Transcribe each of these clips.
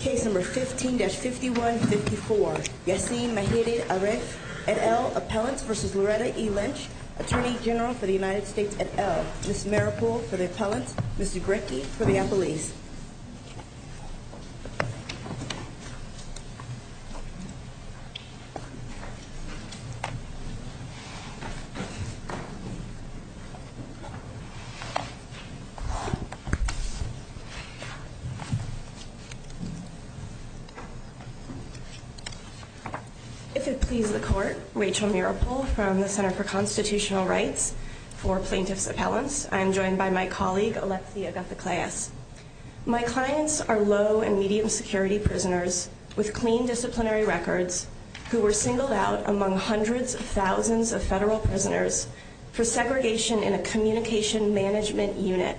Case No. 15-5154, Yassin Mehedi Aref et al., Appellants v. Loretta E. Lynch, Attorney General for the United States et al., Ms. Maripoul for the Appellants, Mr. Grechky for the Appellees. If it please the Court, Rachel Maripoul from the Center for Constitutional Rights for Plaintiffs' Appellants. I am joined by my colleague Alexia Gutha-Cleas. My clients are low and medium security prisoners with clean disciplinary records who were singled out among hundreds of thousands of federal prisoners for segregation in a communication management unit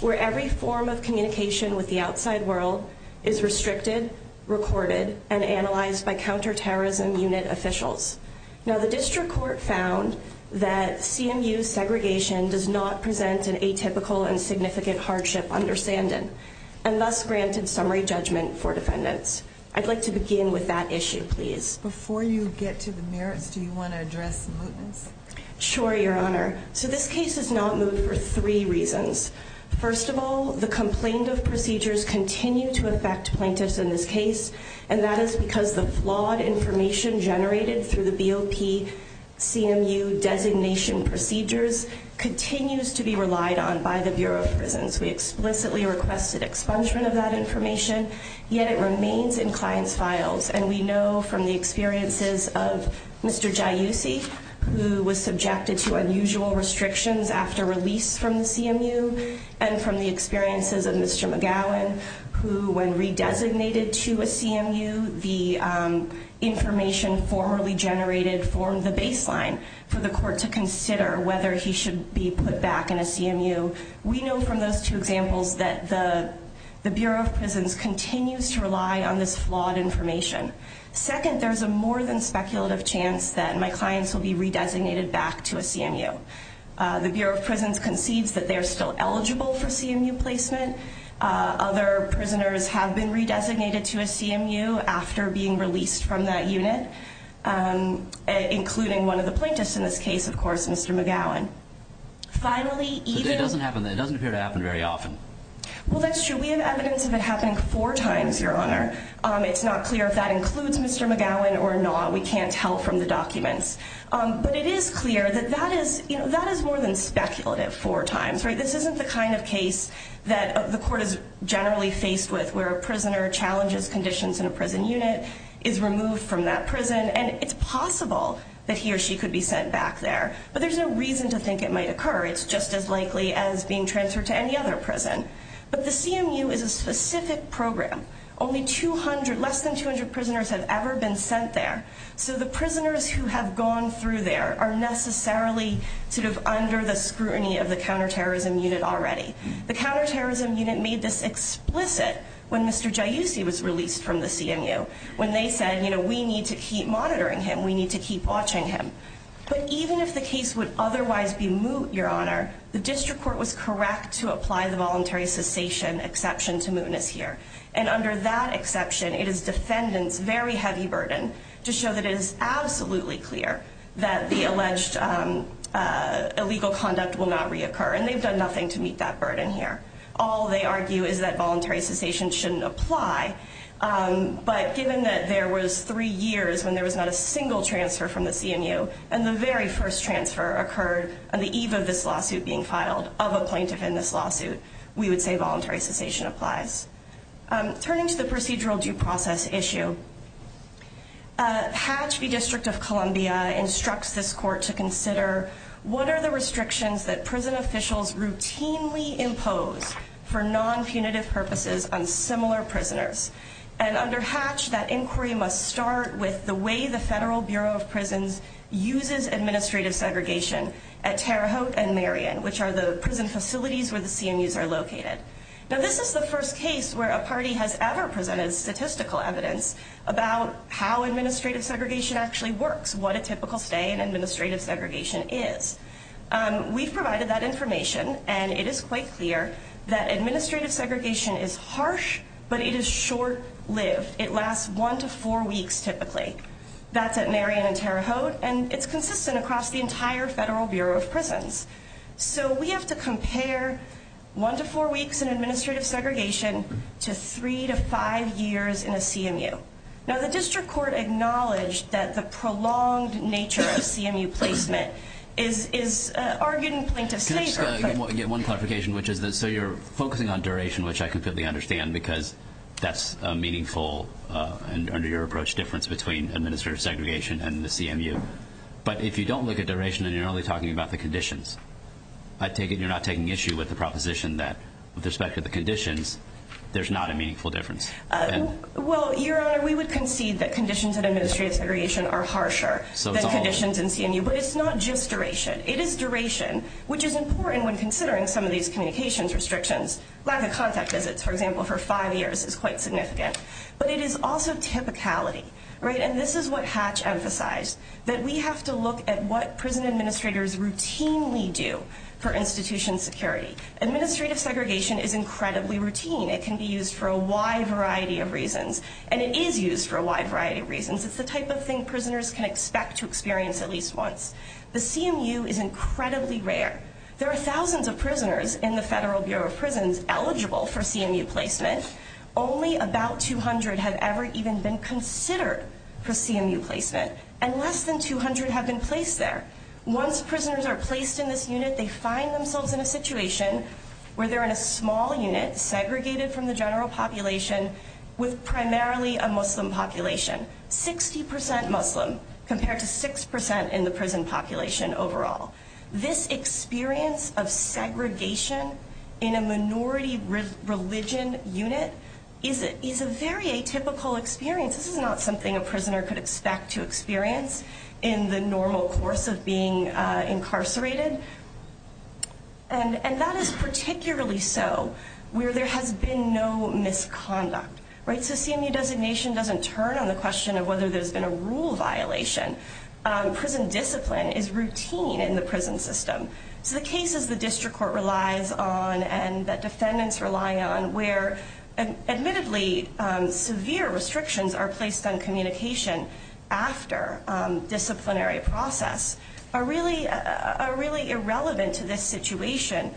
where every form of communication with the outside world is restricted, recorded, and analyzed by counterterrorism unit officials. Now the District Court found that CMU segregation does not present an atypical and significant hardship understanding, and thus granted summary judgment for defendants. I'd like to begin with that issue, please. Before you get to the merits, do you want to address the mootness? Sure, Your Honor. So this case is not moot for three reasons. First of all, the complaint of procedures continue to affect plaintiffs in this case, and that is because the flawed information generated through the BOP CMU designation procedures continues to be relied on by the Bureau of Prisons. We explicitly requested expungement of that information, yet it remains in clients' files. And we know from the experiences of Mr. Giussi, who was subjected to unusual restrictions after release from the CMU, and from the experiences of Mr. McGowan, who, when redesignated to a CMU, the information formerly generated formed the baseline for the court to consider whether he should be put back in a CMU. We know from those two examples that the Bureau of Prisons continues to rely on this flawed information. Second, there is a more than speculative chance that my clients will be redesignated back to a CMU. The Bureau of Prisons concedes that they are still eligible for CMU placement. Other prisoners have been redesignated to a CMU after being released from that unit, including one of the plaintiffs in this case, of course, Mr. McGowan. Finally, even- It doesn't appear to happen very often. Well, that's true. We have evidence of it happening four times, Your Honor. It's not clear if that includes Mr. McGowan or not. We can't tell from the documents. But it is clear that that is more than speculative four times. This isn't the kind of case that the court is generally faced with, where a prisoner challenges conditions in a prison unit, is removed from that prison, and it's possible that he or she could be sent back there. But there's no reason to think it might occur. It's just as likely as being transferred to any other prison. But the CMU is a specific program. Only 200- less than 200 prisoners have ever been sent there. So the prisoners who have gone through there are necessarily sort of under the scrutiny of the counterterrorism unit already. The counterterrorism unit made this explicit when Mr. Giussi was released from the CMU, when they said, you know, we need to keep monitoring him, we need to keep watching him. But even if the case would otherwise be moot, Your Honor, the district court was correct to apply the voluntary cessation exception to mootness here. And under that exception, it is defendants' very heavy burden to show that it is absolutely clear that the alleged illegal conduct will not reoccur. And they've done nothing to meet that burden here. All they argue is that voluntary cessation shouldn't apply. But given that there was three years when there was not a single transfer from the CMU, and the very first transfer occurred on the eve of this lawsuit being filed, of a plaintiff in this lawsuit, we would say voluntary cessation applies. Turning to the procedural due process issue, Hatch v. District of Columbia instructs this court to consider what are the restrictions that prison officials routinely impose for non-punitive purposes on similar prisoners. And under Hatch, that inquiry must start with the way the Federal Bureau of Prisons uses administrative segregation at Terre Haute and Marion, which are the prison facilities where the CMUs are located. Now, this is the first case where a party has ever presented statistical evidence about how administrative segregation actually works, what a typical stay in administrative segregation is. We've provided that information, and it is quite clear that administrative segregation is harsh, but it is short-lived. It lasts one to four weeks, typically. That's at Marion and Terre Haute, and it's consistent across the entire Federal Bureau of Prisons. So we have to compare one to four weeks in administrative segregation to three to five years in a CMU. Now, the district court acknowledged that the prolonged nature of CMU placement is argued in plaintiff's favor. Can I just get one clarification, which is that so you're focusing on duration, which I completely understand, because that's a meaningful and, under your approach, difference between administrative segregation and the CMU. But if you don't look at duration and you're only talking about the conditions, I take it you're not taking issue with the proposition that, with respect to the conditions, there's not a meaningful difference. Well, Your Honor, we would concede that conditions in administrative segregation are harsher than conditions in CMU. But it's not just duration. It is duration, which is important when considering some of these communications restrictions. Lack of contact visits, for example, for five years is quite significant. But it is also typicality, right? And this is what Hatch emphasized, that we have to look at what prison administrators routinely do for institution security. Administrative segregation is incredibly routine. It can be used for a wide variety of reasons. And it is used for a wide variety of reasons. It's the type of thing prisoners can expect to experience at least once. The CMU is incredibly rare. There are thousands of prisoners in the Federal Bureau of Prisons eligible for CMU placement. Only about 200 have ever even been considered for CMU placement. And less than 200 have been placed there. Once prisoners are placed in this unit, they find themselves in a situation where they're in a small unit, segregated from the general population, with primarily a Muslim population. 60% Muslim, compared to 6% in the prison population overall. This experience of segregation in a minority religion unit is a very atypical experience. This is not something a prisoner could expect to experience in the normal course of being incarcerated. And that is particularly so where there has been no misconduct, right? So CMU designation doesn't turn on the question of whether there's been a rule violation. Prison discipline is routine in the prison system. So the cases the district court relies on and that defendants rely on, where admittedly severe restrictions are placed on communication after disciplinary process, are really irrelevant to this situation.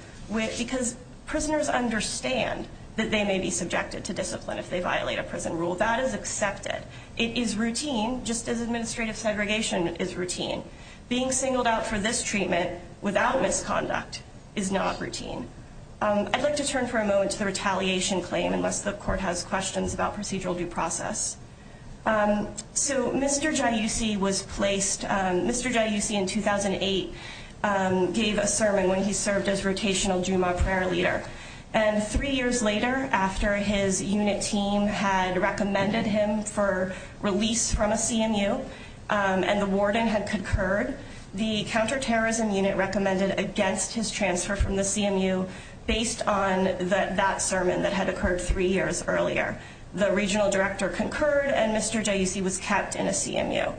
Because prisoners understand that they may be subjected to discipline if they violate a prison rule. That is accepted. It is routine, just as administrative segregation is routine. Being singled out for this treatment without misconduct is not routine. I'd like to turn for a moment to the retaliation claim, unless the court has questions about procedural due process. So Mr. Giussi was placed, Mr. Giussi in 2008 gave a sermon when he served as rotational Juma prayer leader. And three years later, after his unit team had recommended him for release from a CMU and the warden had concurred, the counterterrorism unit recommended against his transfer from the CMU based on that sermon that had occurred three years earlier. The regional director concurred and Mr. Giussi was kept in a CMU.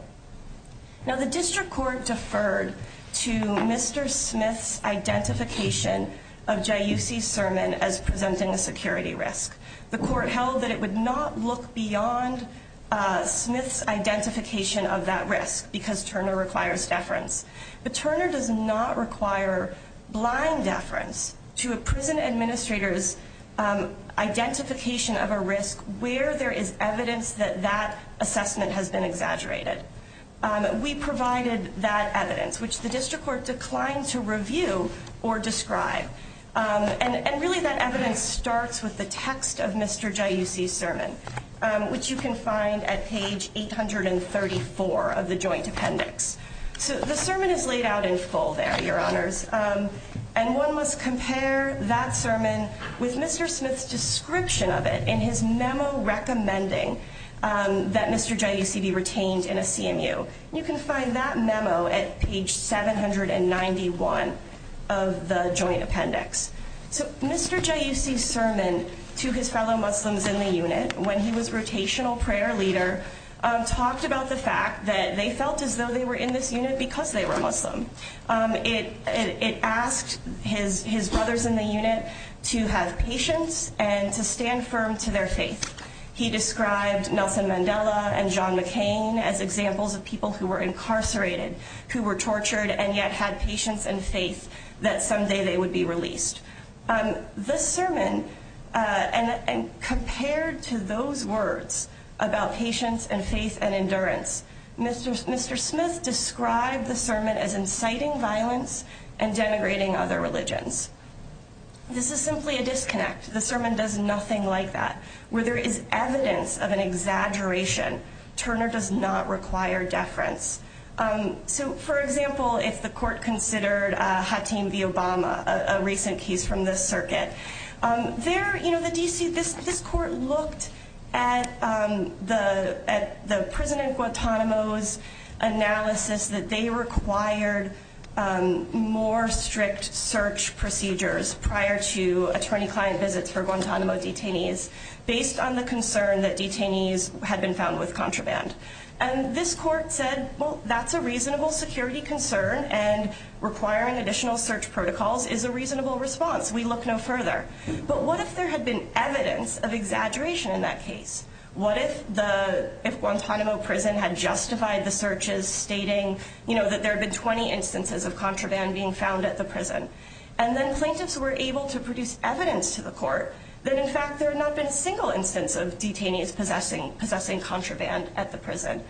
Now the district court deferred to Mr. Smith's identification of Giussi's sermon as presenting a security risk. The court held that it would not look beyond Smith's identification of that risk because Turner requires deference. But Turner does not require blind deference to a prison administrator's identification of a risk where there is evidence that that assessment has been exaggerated. We provided that evidence, which the district court declined to review or describe. And really that evidence starts with the text of Mr. Giussi's sermon, which you can find at page 834 of the joint appendix. So the sermon is laid out in full there, your honors. And one must compare that sermon with Mr. Smith's description of it in his memo recommending that Mr. Giussi be retained in a CMU. You can find that memo at page 791 of the joint appendix. So Mr. Giussi's sermon to his fellow Muslims in the unit when he was rotational prayer leader talked about the fact that they felt as though they were in this unit because they were Muslim. It asked his brothers in the unit to have patience and to stand firm to their faith. He described Nelson Mandela and John McCain as examples of people who were incarcerated, who were tortured, and yet had patience and faith that someday they would be released. This sermon, and compared to those words about patience and faith and endurance, Mr. Smith described the sermon as inciting violence and denigrating other religions. This is simply a disconnect. The sermon does nothing like that. Where there is evidence of an exaggeration, Turner does not require deference. So for example, if the court considered Hatim v. Obama, a recent case from this circuit, this court looked at the prison in Guantanamo's analysis that they required more strict search procedures prior to attorney-client visits for Guantanamo detainees based on the concern that detainees had been found with contraband. And this court said, well, that's a reasonable security concern, and requiring additional search protocols is a reasonable response. We look no further. But what if there had been evidence of exaggeration in that case? What if Guantanamo prison had justified the searches stating that there had been 20 instances of contraband being found at the prison? And then plaintiffs were able to produce evidence to the court that, in fact, there had not been a single instance of detainees possessing contraband at the prison.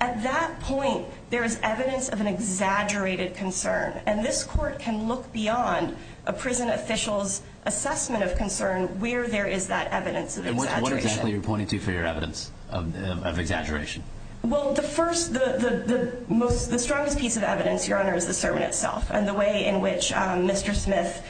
At that point, there is evidence of an exaggerated concern. And this court can look beyond a prison official's assessment of concern where there is that evidence of exaggeration. And what exactly are you pointing to for your evidence of exaggeration? Well, the strongest piece of evidence, Your Honor, is the sermon itself and the way in which Mr. Smith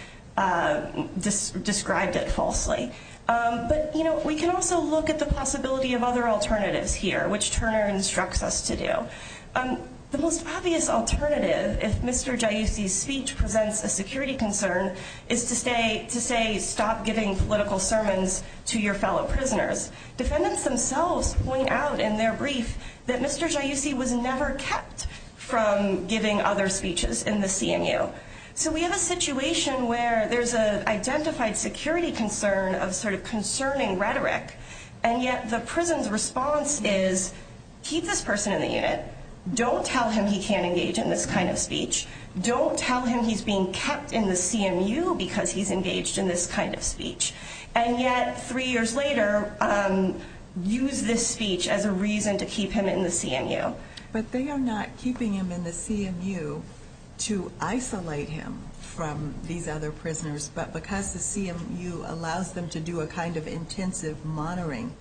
described it falsely. But we can also look at the possibility of other alternatives here, which Turner instructs us to do. The most obvious alternative, if Mr. Giussi's speech presents a security concern, is to say, stop giving political sermons to your fellow prisoners. Defendants themselves point out in their brief that Mr. Giussi was never kept from giving other speeches in the CMU. So we have a situation where there's an identified security concern of sort of concerning rhetoric. And yet the prison's response is, keep this person in the unit. Don't tell him he can't engage in this kind of speech. Don't tell him he's being kept in the CMU because he's engaged in this kind of speech. And yet, three years later, use this speech as a reason to keep him in the CMU. But they are not keeping him in the CMU to isolate him from these other prisoners, but because the CMU allows them to do a kind of intensive monitoring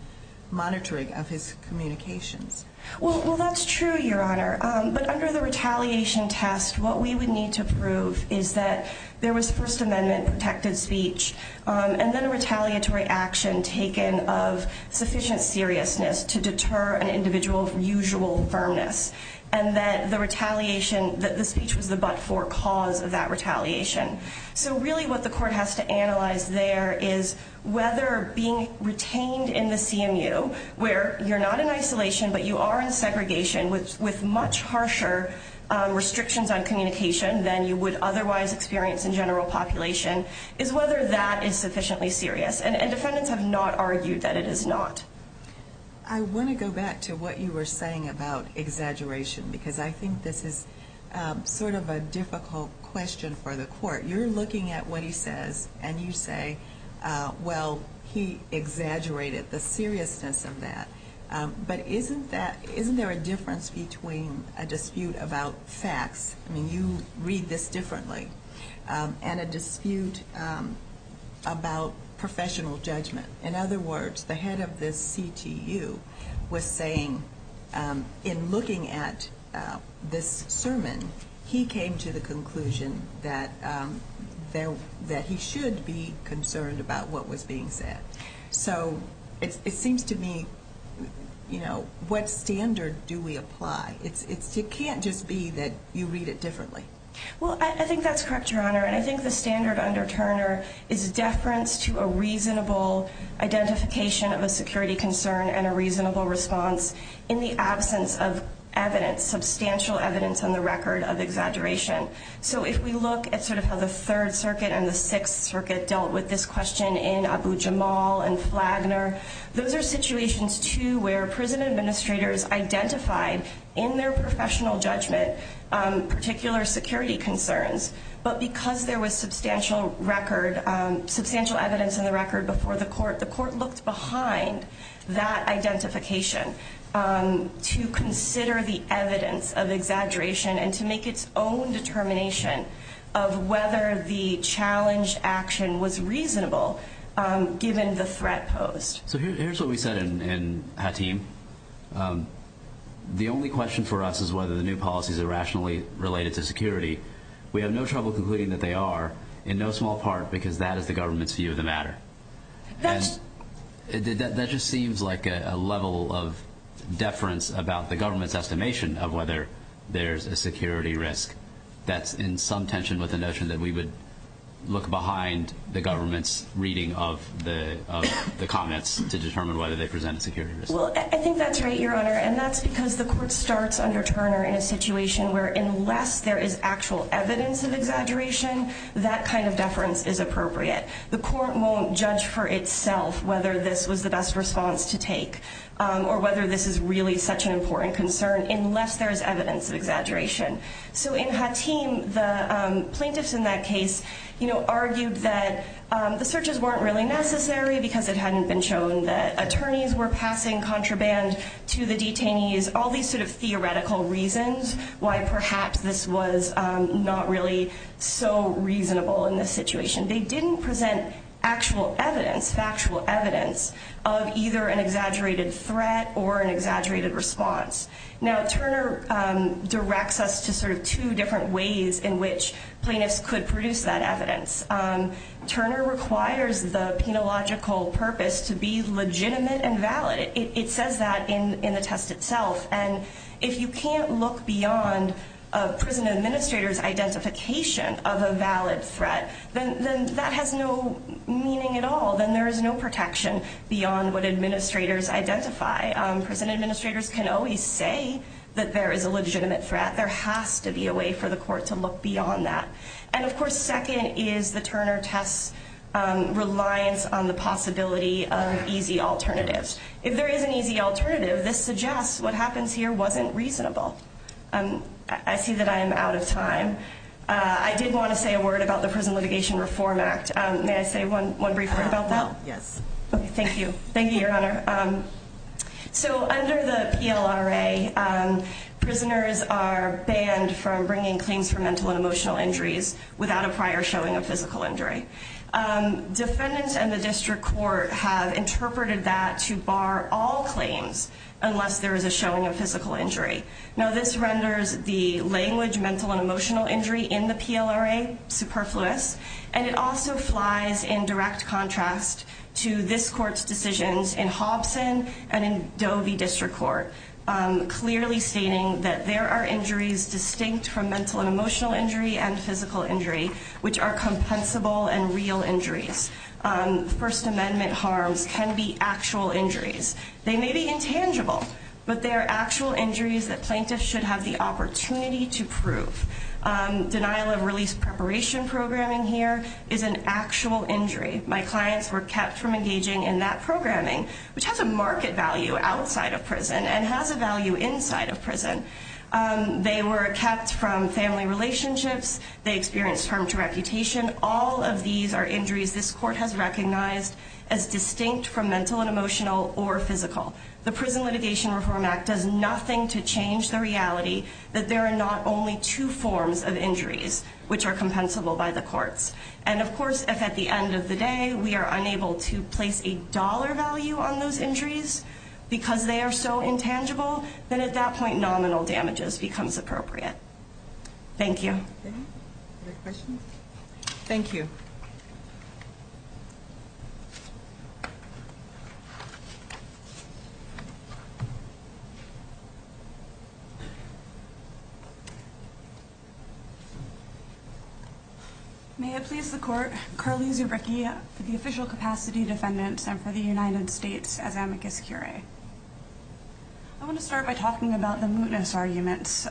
of his communications. Well, that's true, Your Honor. But under the retaliation test, what we would need to prove is that there was First Amendment-protected speech. And then a retaliatory action taken of sufficient seriousness to deter an individual from usual firmness. And that the speech was the but-for cause of that retaliation. So really what the court has to analyze there is whether being retained in the CMU, where you're not in isolation but you are in segregation with much harsher restrictions on communication than you would otherwise experience in general population, is whether that is sufficiently serious. And defendants have not argued that it is not. I want to go back to what you were saying about exaggeration because I think this is sort of a difficult question for the court. You're looking at what he says and you say, well, he exaggerated the seriousness of that. But isn't there a difference between a dispute about facts? I mean, you read this differently. And a dispute about professional judgment. In other words, the head of the CTU was saying in looking at this sermon, he came to the conclusion that he should be concerned about what was being said. So it seems to me, you know, what standard do we apply? It can't just be that you read it differently. Well, I think that's correct, Your Honor. And I think the standard under Turner is deference to a reasonable identification of a security concern and a reasonable response in the absence of evidence, substantial evidence on the record of exaggeration. So if we look at sort of how the Third Circuit and the Sixth Circuit dealt with this question in Abu Jamal and Flagner, those are situations, too, where prison administrators identified in their professional judgment particular security concerns. But because there was substantial record, substantial evidence on the record before the court, the court looked behind that identification to consider the evidence of exaggeration and to make its own determination of whether the challenged action was reasonable given the threat posed. So here's what we said in Hatim. The only question for us is whether the new policies are rationally related to security. We have no trouble concluding that they are in no small part because that is the government's view of the matter. That just seems like a level of deference about the government's estimation of whether there's a security risk that's in some tension with the notion that we would look behind the government's reading of the comments to determine whether they present a security risk. Well, I think that's right, Your Honor, and that's because the court starts under Turner in a situation where unless there is actual evidence of exaggeration, that kind of deference is appropriate. The court won't judge for itself whether this was the best response to take or whether this is really such an important concern unless there is evidence of exaggeration. So in Hatim, the plaintiffs in that case argued that the searches weren't really necessary because it hadn't been shown that attorneys were passing contraband to the detainees, all these sort of theoretical reasons why perhaps this was not really so reasonable in this situation. They didn't present actual evidence, factual evidence of either an exaggerated threat or an exaggerated response. Now, Turner directs us to sort of two different ways in which plaintiffs could produce that evidence. Turner requires the penological purpose to be legitimate and valid. It says that in the test itself, and if you can't look beyond a prison administrator's identification of a valid threat, then that has no meaning at all. Then there is no protection beyond what administrators identify. Prison administrators can always say that there is a legitimate threat. There has to be a way for the court to look beyond that. And, of course, second is the Turner test's reliance on the possibility of easy alternatives. If there is an easy alternative, this suggests what happens here wasn't reasonable. I see that I am out of time. I did want to say a word about the Prison Litigation Reform Act. May I say one brief word about that? Yes. Thank you. Thank you, Your Honor. So under the PLRA, prisoners are banned from bringing claims for mental and emotional injuries without a prior showing of physical injury. Defendants and the district court have interpreted that to bar all claims unless there is a showing of physical injury. Now, this renders the language mental and emotional injury in the PLRA superfluous, and it also flies in direct contrast to this court's decisions in Hobson and in Dovey District Court, clearly stating that there are injuries distinct from mental and emotional injury and physical injury, which are compensable and real injuries. First Amendment harms can be actual injuries. They may be intangible, but they are actual injuries that plaintiffs should have the opportunity to prove. Denial of release preparation programming here is an actual injury. My clients were kept from engaging in that programming, which has a market value outside of prison and has a value inside of prison. They were kept from family relationships. They experienced harm to reputation. All of these are injuries this court has recognized as distinct from mental and emotional or physical. The Prison Litigation Reform Act does nothing to change the reality that there are not only two forms of injuries, which are compensable by the courts. And, of course, if at the end of the day we are unable to place a dollar value on those injuries because they are so intangible, then at that point nominal damages becomes appropriate. Thank you. Other questions? Thank you. May it please the Court, Carly Zubricki for the official capacity defendants and for the United States as amicus curiae. I want to start by talking about the mootness arguments.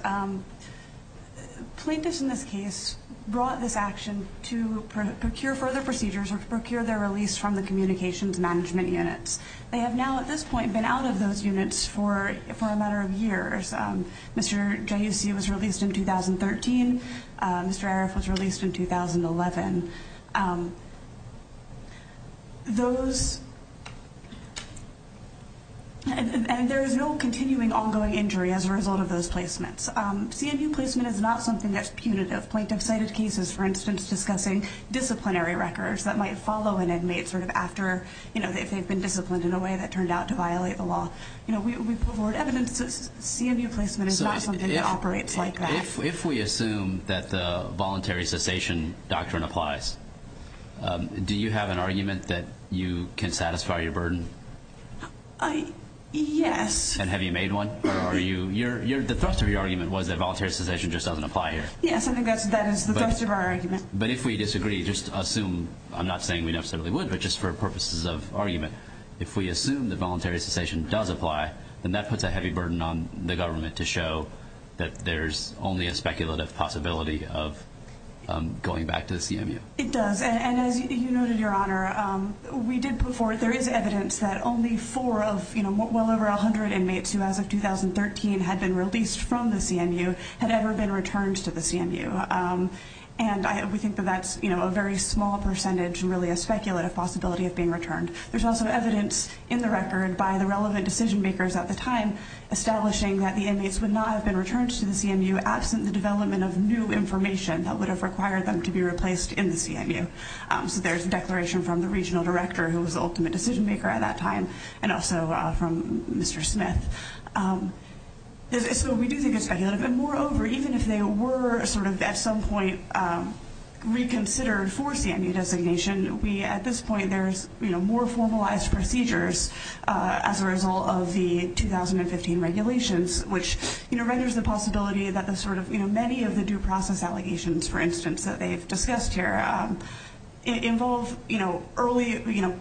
Plaintiffs in this case brought this action to procure further procedures or procure their release from the communications management units. They have now, at this point, been out of those units for a matter of years. Mr. Giussi was released in 2013. Mr. Aref was released in 2011. Those, and there is no continuing ongoing injury as a result of those placements. CMU placement is not something that's punitive. Plaintiffs cited cases, for instance, discussing disciplinary records that might follow an inmate sort of after, you know, if they've been disciplined in a way that turned out to violate the law. You know, we've heard evidence that CMU placement is not something that operates like that. If we assume that the voluntary cessation doctrine applies, do you have an argument that you can satisfy your burden? Yes. And have you made one? The thrust of your argument was that voluntary cessation just doesn't apply here. Yes, I think that is the thrust of our argument. But if we disagree, just assume, I'm not saying we necessarily would, but just for purposes of argument, if we assume that voluntary cessation does apply, then that puts a heavy burden on the government to show that there's only a speculative possibility of going back to the CMU. It does. And as you noted, Your Honor, we did put forward, there is evidence that only four of, you know, well over 100 inmates who as of 2013 had been released from the CMU had ever been returned to the CMU. And we think that that's, you know, a very small percentage and really a speculative possibility of being returned. There's also evidence in the record by the relevant decision makers at the time, establishing that the inmates would not have been returned to the CMU absent the development of new information that would have required them to be replaced in the CMU. So there's a declaration from the regional director, who was the ultimate decision maker at that time, and also from Mr. Smith. So we do think it's speculative. And moreover, even if they were sort of at some point reconsidered for CMU designation, we at this point, there's, you know, more formalized procedures as a result of the 2015 regulations, which renders the possibility that the sort of, you know, many of the due process allegations, for instance, that they've discussed here involve, you know,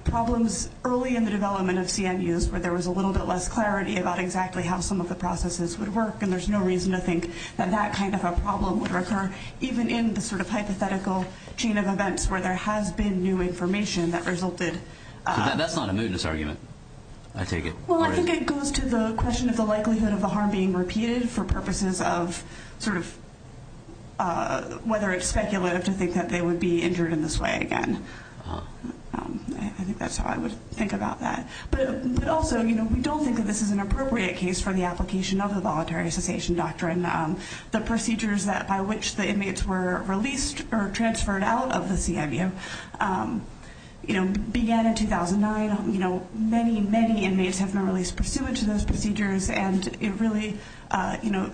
problems early in the development of CMUs where there was a little bit less clarity about exactly how some of the processes would work. And there's no reason to think that that kind of a problem would occur, even in the sort of hypothetical chain of events where there has been new information that resulted. That's not a mootness argument, I take it. Well, I think it goes to the question of the likelihood of the harm being repeated for purposes of sort of whether it's speculative to think that they would be injured in this way again. I think that's how I would think about that. But also, you know, we don't think that this is an appropriate case for the application of the voluntary cessation doctrine. The procedures by which the inmates were released or transferred out of the CMU, you know, began in 2009. You know, many, many inmates have been released pursuant to those procedures, and it really, you know,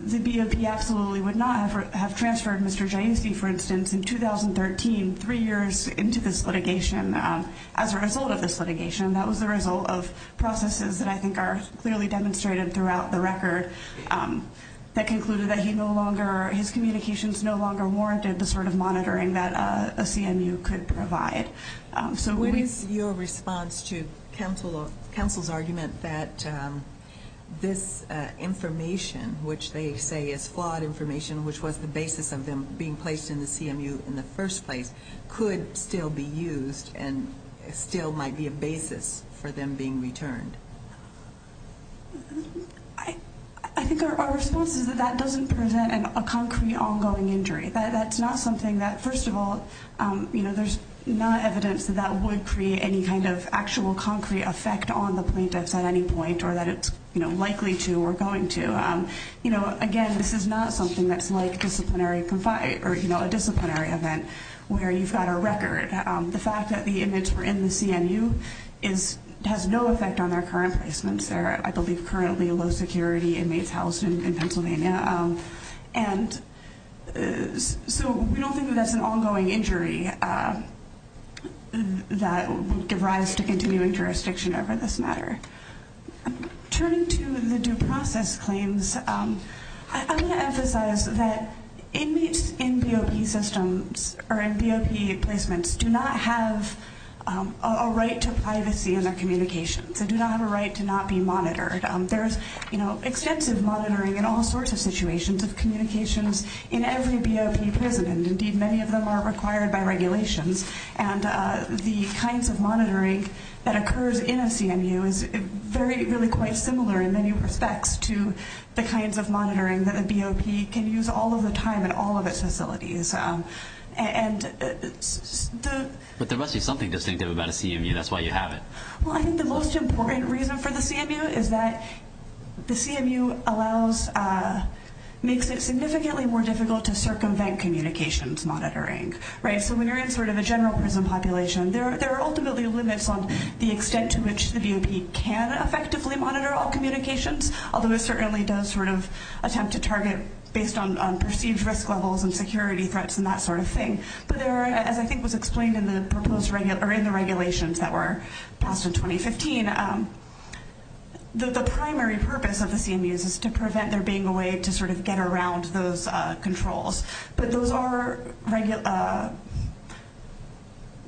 the BOP absolutely would not have transferred Mr. Jainski, for instance, in 2013, three years into this litigation as a result of this litigation. That was the result of processes that I think are clearly demonstrated throughout the record that concluded that he no longer, his communications no longer warranted the sort of monitoring that a CMU could provide. So what is your response to counsel's argument that this information, which they say is flawed information, which was the basis of them being placed in the CMU in the first place, could still be used and still might be a basis for them being returned? I think our response is that that doesn't present a concrete ongoing injury. That's not something that, first of all, you know, there's not evidence that that would create any kind of actual concrete effect on the plaintiffs at any point or that it's, you know, likely to or going to. You know, again, this is not something that's like a disciplinary event where you've got a record. The fact that the inmates were in the CMU has no effect on their current placements. They're, I believe, currently low-security inmates housed in Pennsylvania. And so we don't think that that's an ongoing injury that would give rise to continuing jurisdiction over this matter. Turning to the due process claims, I want to emphasize that inmates in BOP systems or in BOP placements do not have a right to privacy in their communications. They do not have a right to not be monitored. There is, you know, extensive monitoring in all sorts of situations of communications in every BOP prison, and indeed many of them are required by regulations. And the kinds of monitoring that occurs in a CMU is really quite similar in many respects to the kinds of monitoring that a BOP can use all of the time in all of its facilities. But there must be something distinctive about a CMU. That's why you have it. Well, I think the most important reason for the CMU is that the CMU makes it significantly more difficult to circumvent communications monitoring. Right? So when you're in sort of a general prison population, there are ultimately limits on the extent to which the BOP can effectively monitor all communications, although it certainly does sort of attempt to target based on perceived risk levels and security threats and that sort of thing. But there are, as I think was explained in the regulations that were passed in 2015, the primary purpose of the CMUs is to prevent there being a way to sort of get around those controls. But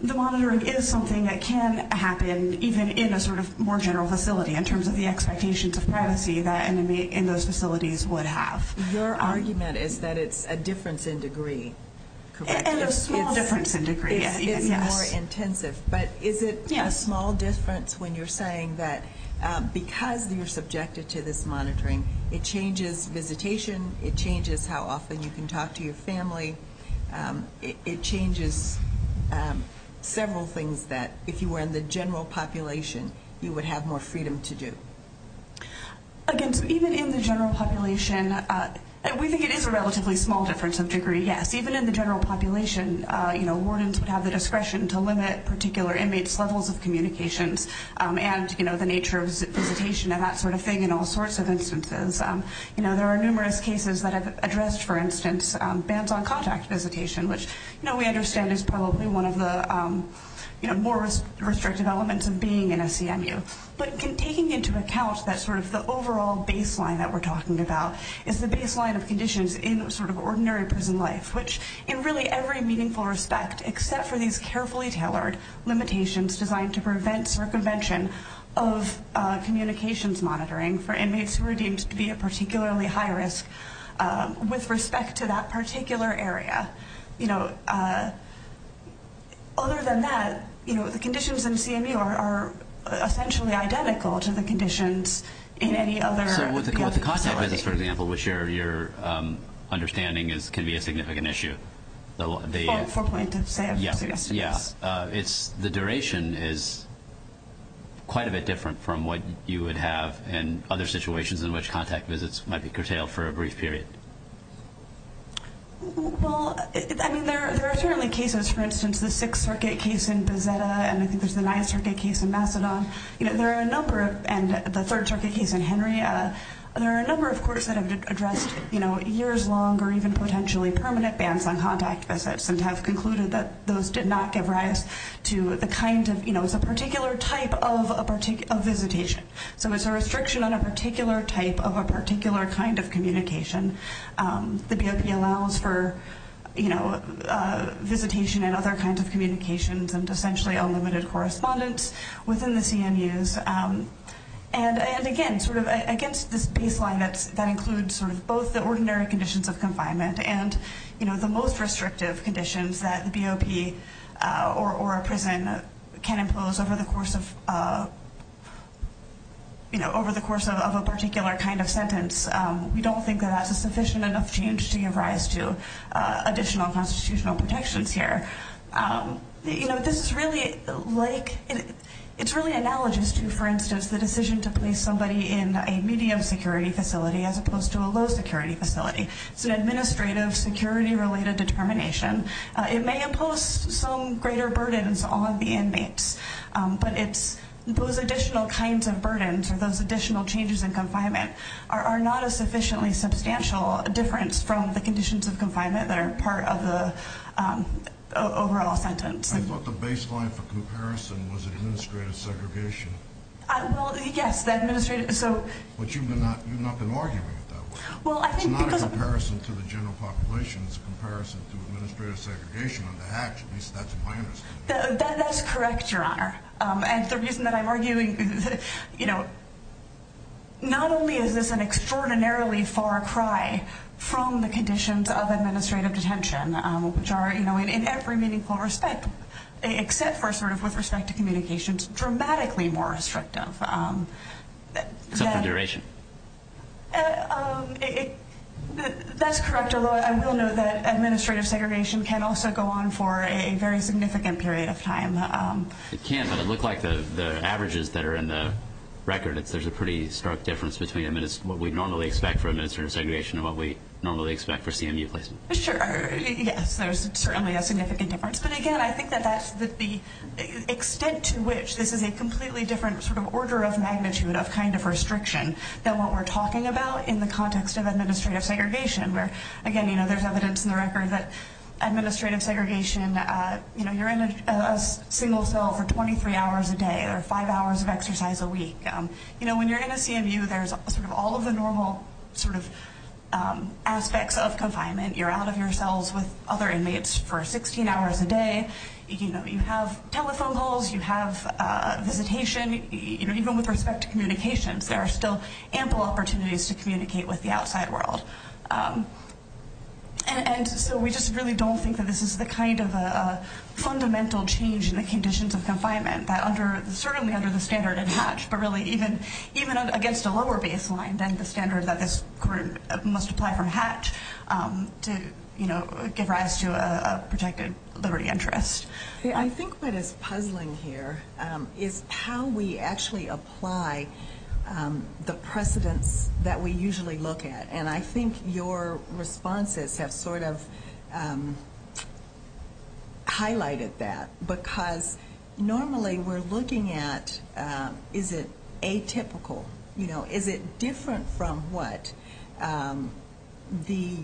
the monitoring is something that can happen even in a sort of more general facility in terms of the expectations of privacy that in those facilities would have. Your argument is that it's a difference in degree, correct? It's a difference in degree, yes. It's more intensive. But is it a small difference when you're saying that because you're subjected to this monitoring, it changes visitation, it changes how often you can talk to your family, it changes several things that if you were in the general population, you would have more freedom to do? Again, even in the general population, we think it is a relatively small difference of degree, yes. Even in the general population, you know, wardens would have the discretion to limit particular inmates' levels of communications and, you know, the nature of visitation and that sort of thing in all sorts of instances. You know, there are numerous cases that have addressed, for instance, bans on contact visitation, which we understand is probably one of the more restrictive elements of being in a CMU. But taking into account that sort of the overall baseline that we're talking about is the baseline of conditions in sort of ordinary prison life, which in really every meaningful respect except for these carefully tailored limitations designed to prevent circumvention of communications monitoring for inmates who are deemed to be at particularly high risk with respect to that particular area. You know, other than that, you know, the conditions in CMU are essentially identical to the conditions in any other. So with the contact visits, for example, which you're understanding can be a significant issue. Four-pointed say, I would suggest it is. Yeah. It's the duration is quite a bit different from what you would have in other situations in which contact visits might be curtailed for a brief period. Well, I mean, there are certainly cases, for instance, the Sixth Circuit case in Bezzetta and I think there's the Ninth Circuit case in Macedon. You know, there are a number of, and the Third Circuit case in Henry, there are a number of courts that have addressed, you know, years-long or even potentially permanent bans on contact visits and have concluded that those did not give rise to the kind of, you know, it's a particular type of visitation. So it's a restriction on a particular type of a particular kind of communication. The BOP allows for, you know, visitation and other kinds of communications and essentially unlimited correspondence within the CMUs. And, again, sort of against this baseline that includes sort of both the ordinary conditions of confinement and, you know, the most restrictive conditions that the BOP or a prison can impose over the course of, you know, over the course of a particular kind of sentence. We don't think that that's a sufficient enough change to give rise to additional constitutional protections here. You know, this is really like, it's really analogous to, for instance, the decision to place somebody in a medium security facility as opposed to a low security facility. It's an administrative security-related determination. It may impose some greater burdens on the inmates, but it's those additional kinds of burdens or those additional changes in confinement are not a sufficiently substantial difference from the conditions of confinement that are part of the overall sentence. I thought the baseline for comparison was administrative segregation. Well, yes, the administrative. But you've not been arguing with that one. It's not a comparison to the general population. It's a comparison to administrative segregation on the hatch. At least that's my understanding. That's correct, Your Honor. And the reason that I'm arguing, you know, not only is this an extraordinarily far cry from the conditions of administrative detention, which are, you know, in every meaningful respect, except for sort of with respect to communications, dramatically more restrictive. Except for duration. That's correct, although I will note that administrative segregation can also go on for a very significant period of time. It can, but it looked like the averages that are in the record, there's a pretty stark difference between what we normally expect for administrative segregation and what we normally expect for CMU placement. Sure, yes, there's certainly a significant difference. But, again, I think that the extent to which this is a completely different sort of order of magnitude of kind of restriction than what we're talking about in the context of administrative segregation, where, again, you know, there's evidence in the record that administrative segregation, you know, is a single cell for 23 hours a day or 5 hours of exercise a week. You know, when you're in a CMU, there's sort of all of the normal sort of aspects of confinement. You're out of your cells with other inmates for 16 hours a day. You know, you have telephone calls. You have visitation. You know, even with respect to communications, there are still ample opportunities to communicate with the outside world. And so we just really don't think that this is the kind of fundamental change in the conditions of confinement that under certainly under the standard of Hatch, but really even against a lower baseline than the standard that this group must apply from Hatch to, you know, give rise to a protected liberty interest. I think what is puzzling here is how we actually apply the precedents that we usually look at. And I think your responses have sort of highlighted that because normally we're looking at is it atypical? You know, is it different from what the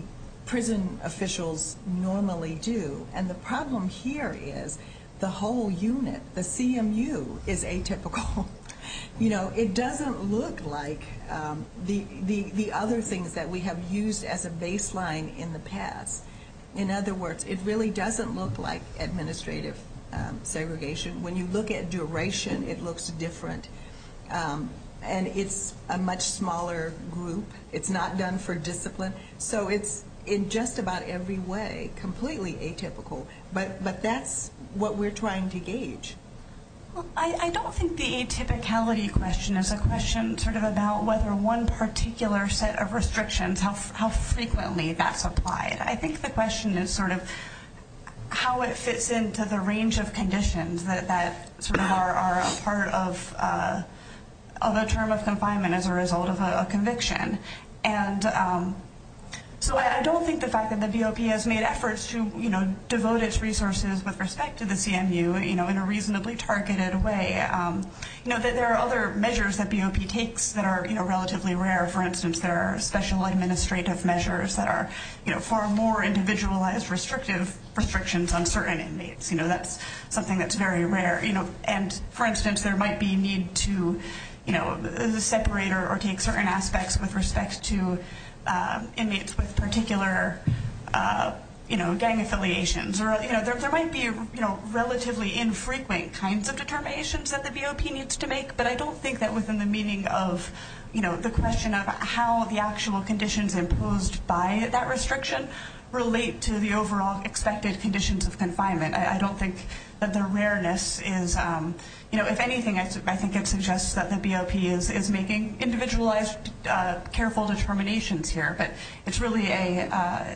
prison officials normally do? And the problem here is the whole unit, the CMU, is atypical. You know, it doesn't look like the other things that we have used as a baseline in the past. In other words, it really doesn't look like administrative segregation. When you look at duration, it looks different. And it's a much smaller group. It's not done for discipline. So it's in just about every way completely atypical. But that's what we're trying to gauge. I don't think the atypicality question is a question sort of about whether one particular set of restrictions, how frequently that's applied. I think the question is sort of how it fits into the range of conditions that sort of are a part of a term of confinement as a result of a conviction. And so I don't think the fact that the BOP has made efforts to, you know, in a reasonably targeted way. You know, there are other measures that BOP takes that are relatively rare. For instance, there are special administrative measures that are, you know, far more individualized restrictive restrictions on certain inmates. You know, that's something that's very rare. And, for instance, there might be need to separate or take certain aspects with respect to inmates with particular, you know, gang affiliations. Or, you know, there might be, you know, relatively infrequent kinds of determinations that the BOP needs to make. But I don't think that within the meaning of, you know, the question of how the actual conditions imposed by that restriction relate to the overall expected conditions of confinement. I don't think that the rareness is, you know, if anything, I think it suggests that the BOP is making individualized careful determinations here. But it's really a,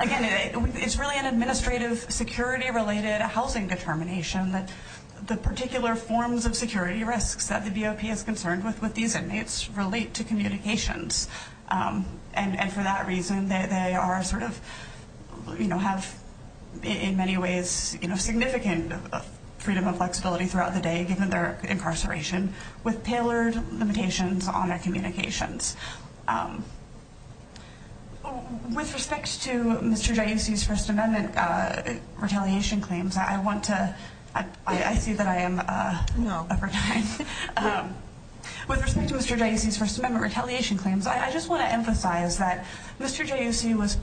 again, it's really an administrative security-related housing determination that the particular forms of security risks that the BOP is concerned with with these inmates relate to communications. And for that reason, they are sort of, you know, have in many ways, you know, significant freedom of flexibility throughout the day given their incarceration with tailored limitations on their communications. With respect to Mr. Giussi's First Amendment retaliation claims, I want to – I see that I am over time. With respect to Mr. Giussi's First Amendment retaliation claims, I just want to emphasize that Mr. Giussi was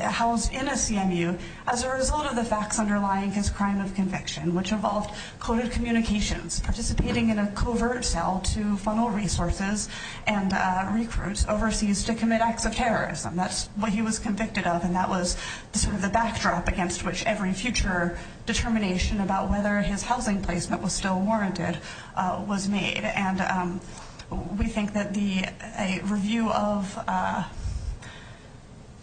housed in a CMU as a result of the facts underlying his crime of conviction, which involved coded communications, participating in a covert cell to funnel resources and recruits overseas to commit acts of terrorism. That's what he was convicted of, and that was sort of the backdrop against which every future determination about whether his housing placement was still warranted was made. And we think that a review of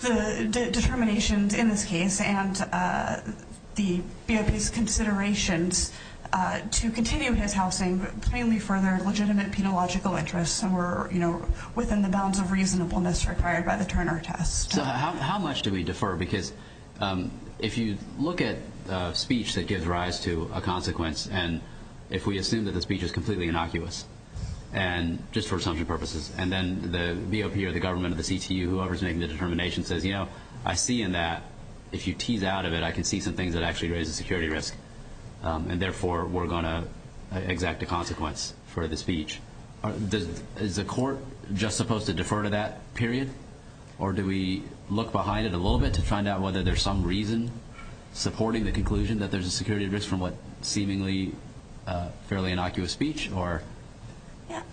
the determinations in this case and the BOP's considerations to continue his housing plainly further legitimate penological interests and were, you know, within the bounds of reasonableness required by the Turner test. So how much do we defer? Because if you look at speech that gives rise to a consequence and if we assume that the speech is completely innocuous, and just for assumption purposes, and then the BOP or the government or the CTU, whoever's making the determination, says, you know, I see in that, if you tease out of it, I can see some things that actually raise a security risk, and therefore we're going to exact a consequence for the speech. Is the court just supposed to defer to that period? Or do we look behind it a little bit to find out whether there's some reason supporting the conclusion that there's a security risk from what seemingly fairly innocuous speech?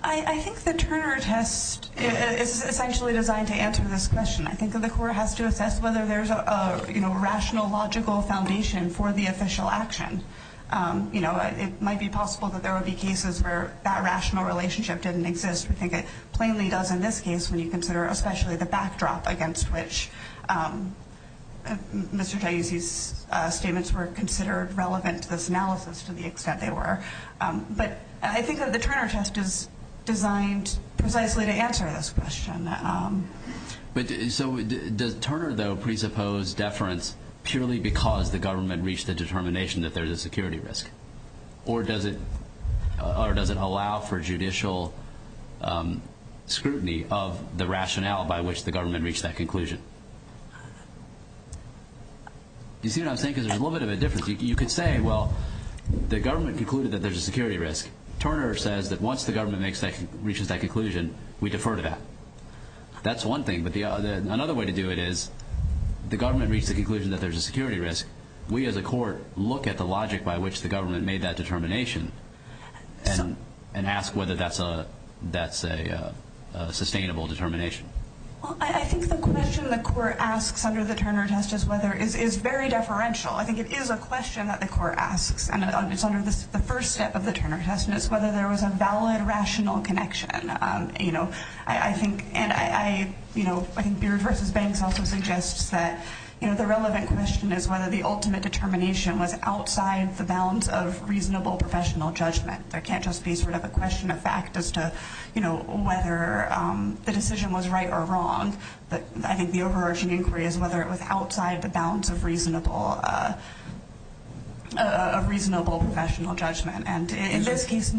I think the Turner test is essentially designed to answer this question. I think that the court has to assess whether there's a, you know, rational, logical foundation for the official action. You know, it might be possible that there would be cases where that rational relationship didn't exist. We think it plainly does in this case when you consider especially the backdrop against which Mr. Taizzi's statements were considered relevant to this analysis to the extent they were. But I think that the Turner test is designed precisely to answer this question. So does Turner, though, presuppose deference purely because the government reached the determination that there's a security risk? Or does it allow for judicial scrutiny of the rationale by which the government reached that conclusion? You see what I'm saying? Because there's a little bit of a difference. You could say, well, the government concluded that there's a security risk. Turner says that once the government reaches that conclusion, we defer to that. That's one thing. But another way to do it is the government reached the conclusion that there's a security risk. We as a court look at the logic by which the government made that determination and ask whether that's a sustainable determination. Well, I think the question the court asks under the Turner test is very deferential. I think it is a question that the court asks, and it's under the first step of the Turner test, and it's whether there was a valid rational connection. I think Beard v. Banks also suggests that the relevant question is whether the ultimate determination was outside the bounds of reasonable professional judgment. There can't just be sort of a question of fact as to whether the decision was right or wrong. I think the overarching inquiry is whether it was outside the bounds of reasonable professional judgment. In this case,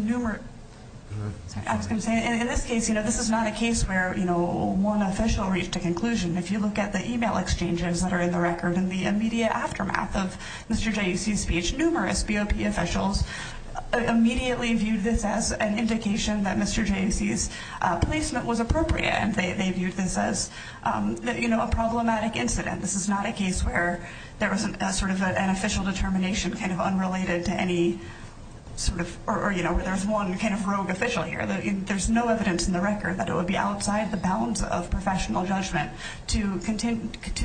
this is not a case where one official reached a conclusion. If you look at the e-mail exchanges that are in the record in the immediate aftermath of Mr. Jussi's speech, numerous BOP officials immediately viewed this as an indication that Mr. Jussi's placement was appropriate. They viewed this as a problematic incident. This is not a case where there was sort of an official determination kind of unrelated to any sort of or there's one kind of rogue official here. There's no evidence in the record that it would be outside the bounds of professional judgment to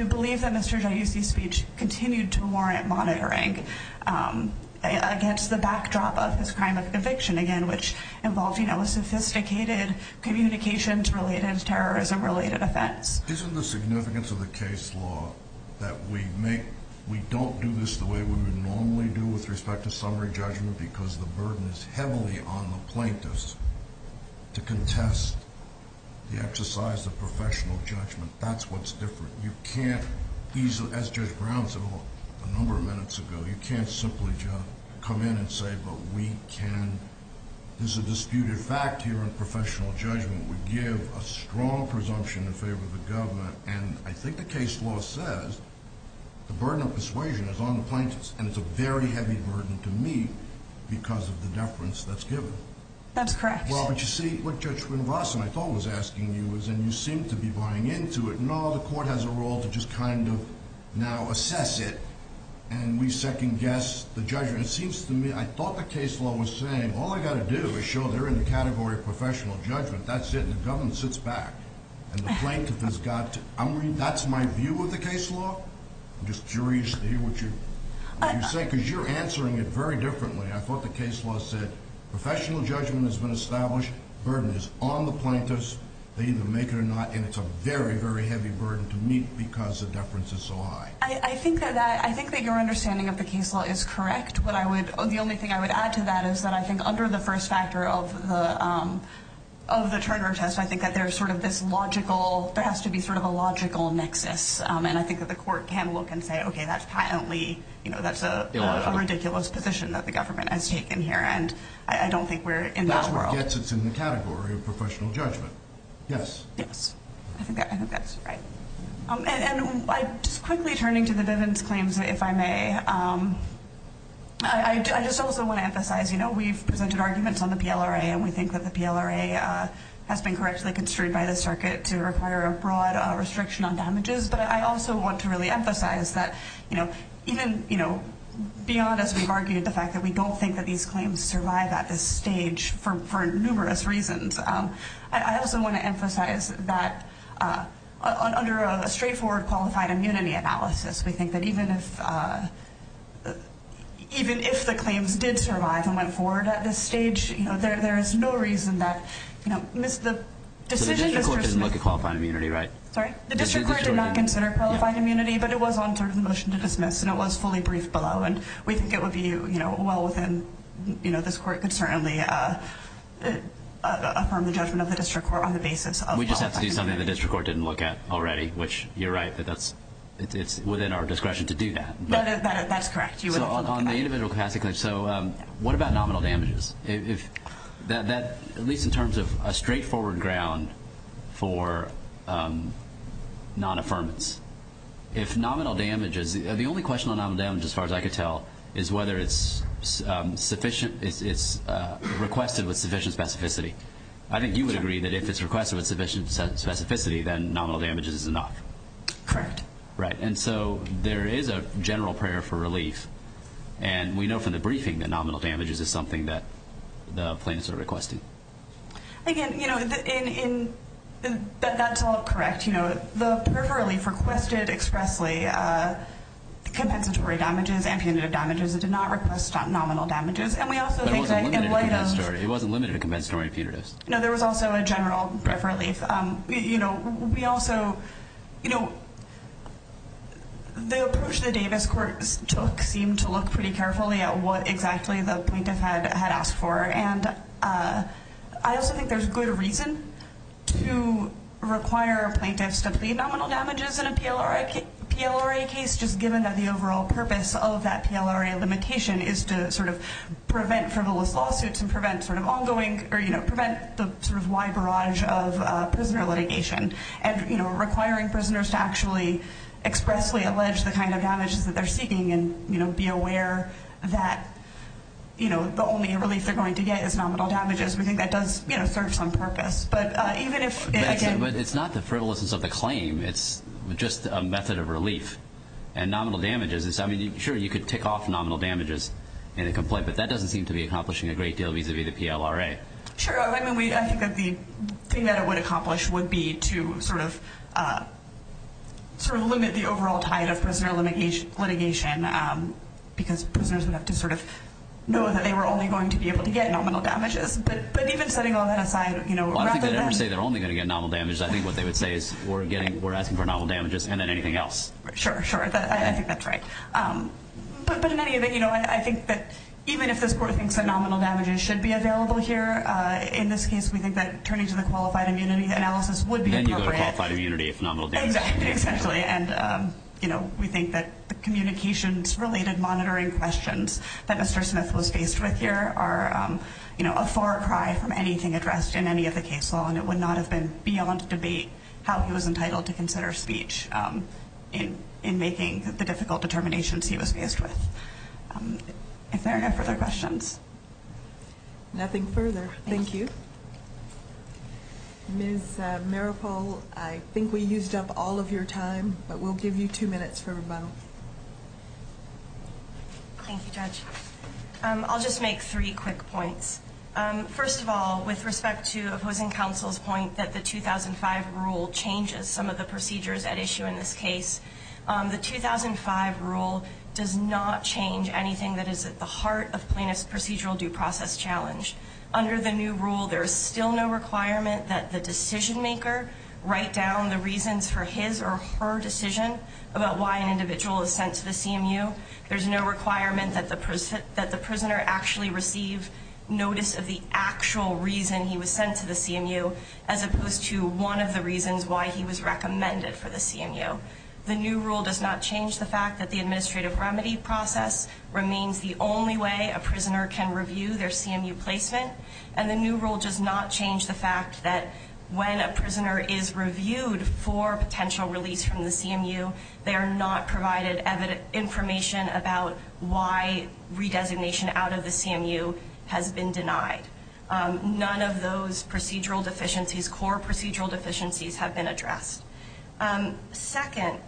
believe that Mr. Jussi's speech continued to warrant monitoring against the backdrop of this crime of conviction, again, which involved a sophisticated communications-related, terrorism-related offense. Isn't the significance of the case law that we don't do this the way we would normally do with respect to summary judgment because the burden is heavily on the plaintiffs to contest the exercise of professional judgment? That's what's different. You can't, as Judge Brown said a number of minutes ago, you can't simply come in and say, but we can. This is a disputed fact here in professional judgment. We give a strong presumption in favor of the government, and I think the case law says the burden of persuasion is on the plaintiffs, and it's a very heavy burden to me because of the deference that's given. That's correct. Well, but you see, what Judge Winvason, I thought, was asking you is, and you seem to be buying into it, no, the court has a role to just kind of now assess it, and we second-guess the judgment. It seems to me, I thought the case law was saying, all I've got to do is show they're in the category of professional judgment. That's it, and the government sits back, and the plaintiff has got to. That's my view of the case law? I'm just curious to hear what you're saying because you're answering it very differently. I thought the case law said professional judgment has been established, the burden is on the plaintiffs, they either make it or not, and it's a very, very heavy burden to me because the deference is so high. I think that your understanding of the case law is correct. The only thing I would add to that is that I think under the first factor of the Turner test, I think that there's sort of this logical, there has to be sort of a logical nexus, and I think that the court can look and say, okay, that's patently, that's a ridiculous position that the government has taken here, and I don't think we're in that world. That's what gets us in the category of professional judgment, yes. Yes, I think that's right. And just quickly turning to the Bivens claims, if I may, I just also want to emphasize, you know, we've presented arguments on the PLRA, and we think that the PLRA has been correctly construed by the circuit to require a broad restriction on damages, but I also want to really emphasize that, you know, even, you know, beyond as we've argued the fact that we don't think that these claims survive at this stage for numerous reasons, I also want to emphasize that under a straightforward qualified immunity analysis, we think that even if the claims did survive and went forward at this stage, you know, there is no reason that, you know, the decision is just. So the district court didn't look at qualified immunity, right? Sorry? The district court did not consider qualified immunity, but it was on third of the motion to dismiss, and it was fully briefed below, and we think it would be, you know, well within, you know, this court could certainly affirm the judgment of the district court on the basis of. We just have to do something the district court didn't look at already, which you're right. It's within our discretion to do that. No, no, that's correct. So on the individual capacity claims, so what about nominal damages? If that, at least in terms of a straightforward ground for non-affirmance, if nominal damages, the only question on nominal damages as far as I could tell is whether it's sufficient, it's requested with sufficient specificity. I think you would agree that if it's requested with sufficient specificity, then nominal damages is enough. Correct. Right. And so there is a general prayer for relief, and we know from the briefing that nominal damages is something that the plaintiffs are requesting. Again, you know, that's all correct. You know, the prayer for relief requested expressly compensatory damages and punitive damages. It did not request nominal damages, and we also think that in light of. But it wasn't limited to compensatory. It wasn't limited to compensatory and punitive. No, there was also a general prayer for relief. You know, we also, you know, the approach the Davis court took seemed to look pretty carefully at what exactly the plaintiff had asked for, and I also think there's good reason to require a plaintiff to plead nominal damages in a PLRA case, just given that the overall purpose of that PLRA limitation is to sort of prevent frivolous lawsuits and prevent sort of ongoing or, you know, prevent the sort of wide barrage of prisoner litigation and, you know, requiring prisoners to actually expressly allege the kind of damages that they're seeking and, you know, be aware that, you know, the only relief they're going to get is nominal damages. We think that does, you know, serve some purpose. But even if. But it's not the frivolousness of the claim. It's just a method of relief and nominal damages. I mean, sure, you could tick off nominal damages in a complaint, but that doesn't seem to be accomplishing a great deal vis-a-vis the PLRA. Sure. I mean, I think that the thing that it would accomplish would be to sort of limit the overall tide of prisoner litigation because prisoners would have to sort of know that they were only going to be able to get nominal damages. But even setting all that aside, you know, rather than. Well, I don't think they'd ever say they're only going to get nominal damages. I think what they would say is we're asking for nominal damages and then anything else. Sure, sure. I think that's right. But in any event, you know, I think that even if this court thinks that nominal damages should be available here, in this case we think that turning to the qualified immunity analysis would be appropriate. Then you go to qualified immunity if nominal damages. Exactly. And, you know, we think that the communications-related monitoring questions that Mr. Smith was faced with here are, you know, a far cry from anything addressed in any of the case law, and it would not have been beyond debate how he was entitled to consider speech in making the difficult determinations he was faced with. If there are no further questions. Nothing further. Thank you. Ms. Maripol, I think we used up all of your time, but we'll give you two minutes for rebuttal. Thank you, Judge. I'll just make three quick points. First of all, with respect to opposing counsel's point that the 2005 rule changes some of the procedures at issue in this case, the 2005 rule does not change anything that is at the heart of Plaintiff's procedural due process challenge. Under the new rule, there is still no requirement that the decision-maker write down the reasons for his or her decision about why an individual is sent to the CMU. There's no requirement that the prisoner actually receive notice of the actual reason he was sent to the CMU, as opposed to one of the reasons why he was recommended for the CMU. The new rule does not change the fact that the administrative remedy process remains the only way a prisoner can review their CMU placement, and the new rule does not change the fact that when a prisoner is reviewed for potential release from the CMU, they are not provided information about why redesignation out of the CMU has been denied. None of those procedural deficiencies, core procedural deficiencies, have been addressed. Second,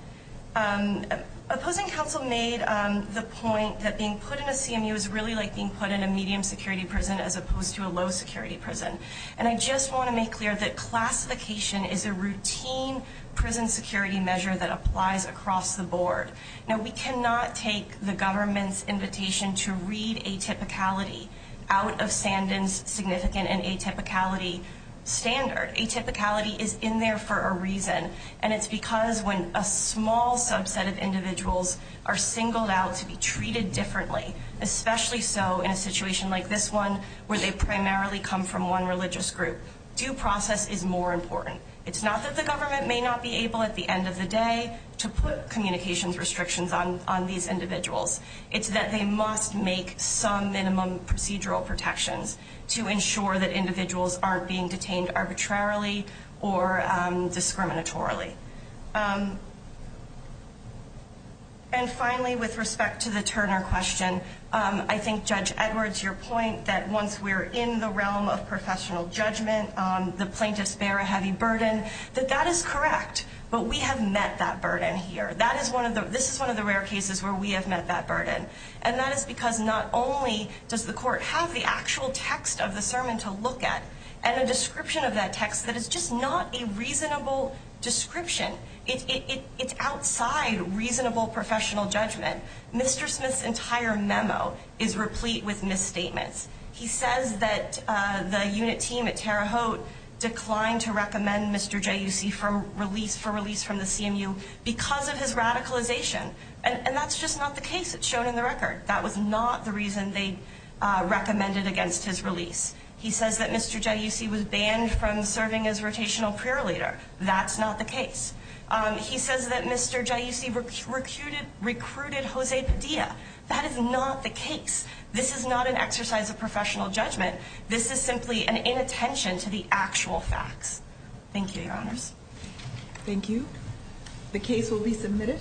opposing counsel made the point that being put in a CMU is really like being put in a medium-security prison as opposed to a low-security prison, and I just want to make clear that classification is a routine prison security measure that applies across the board. Now, we cannot take the government's invitation to read atypicality out of Sandin's significant and atypicality standard. Atypicality is in there for a reason, and it's because when a small subset of individuals are singled out to be treated differently, especially so in a situation like this one where they primarily come from one religious group, due process is more important. It's not that the government may not be able at the end of the day to put communications restrictions on these individuals. It's that they must make some minimum procedural protections to ensure that individuals aren't being detained arbitrarily or discriminatorily. And finally, with respect to the Turner question, I think, Judge Edwards, your point that once we're in the realm of professional judgment, the plaintiffs bear a heavy burden, that that is correct, but we have met that burden here. This is one of the rare cases where we have met that burden, and that is because not only does the court have the actual text of the sermon to look at and a description of that text that is just not a reasonable description. It's outside reasonable professional judgment. Mr. Smith's entire memo is replete with misstatements. He says that the unit team at Terre Haute declined to recommend Mr. J. You see from release for release from the CMU because of his radicalization, and that's just not the case. It's shown in the record. That was not the reason they recommended against his release. He says that Mr. J. You see, was banned from serving as rotational prayer leader. That's not the case. He says that Mr. J. You see, recruited, recruited Jose Padilla. That is not the case. This is not an exercise of professional judgment. This is simply an inattention to the actual facts. Thank you, Your Honors. Thank you. The case will be submitted.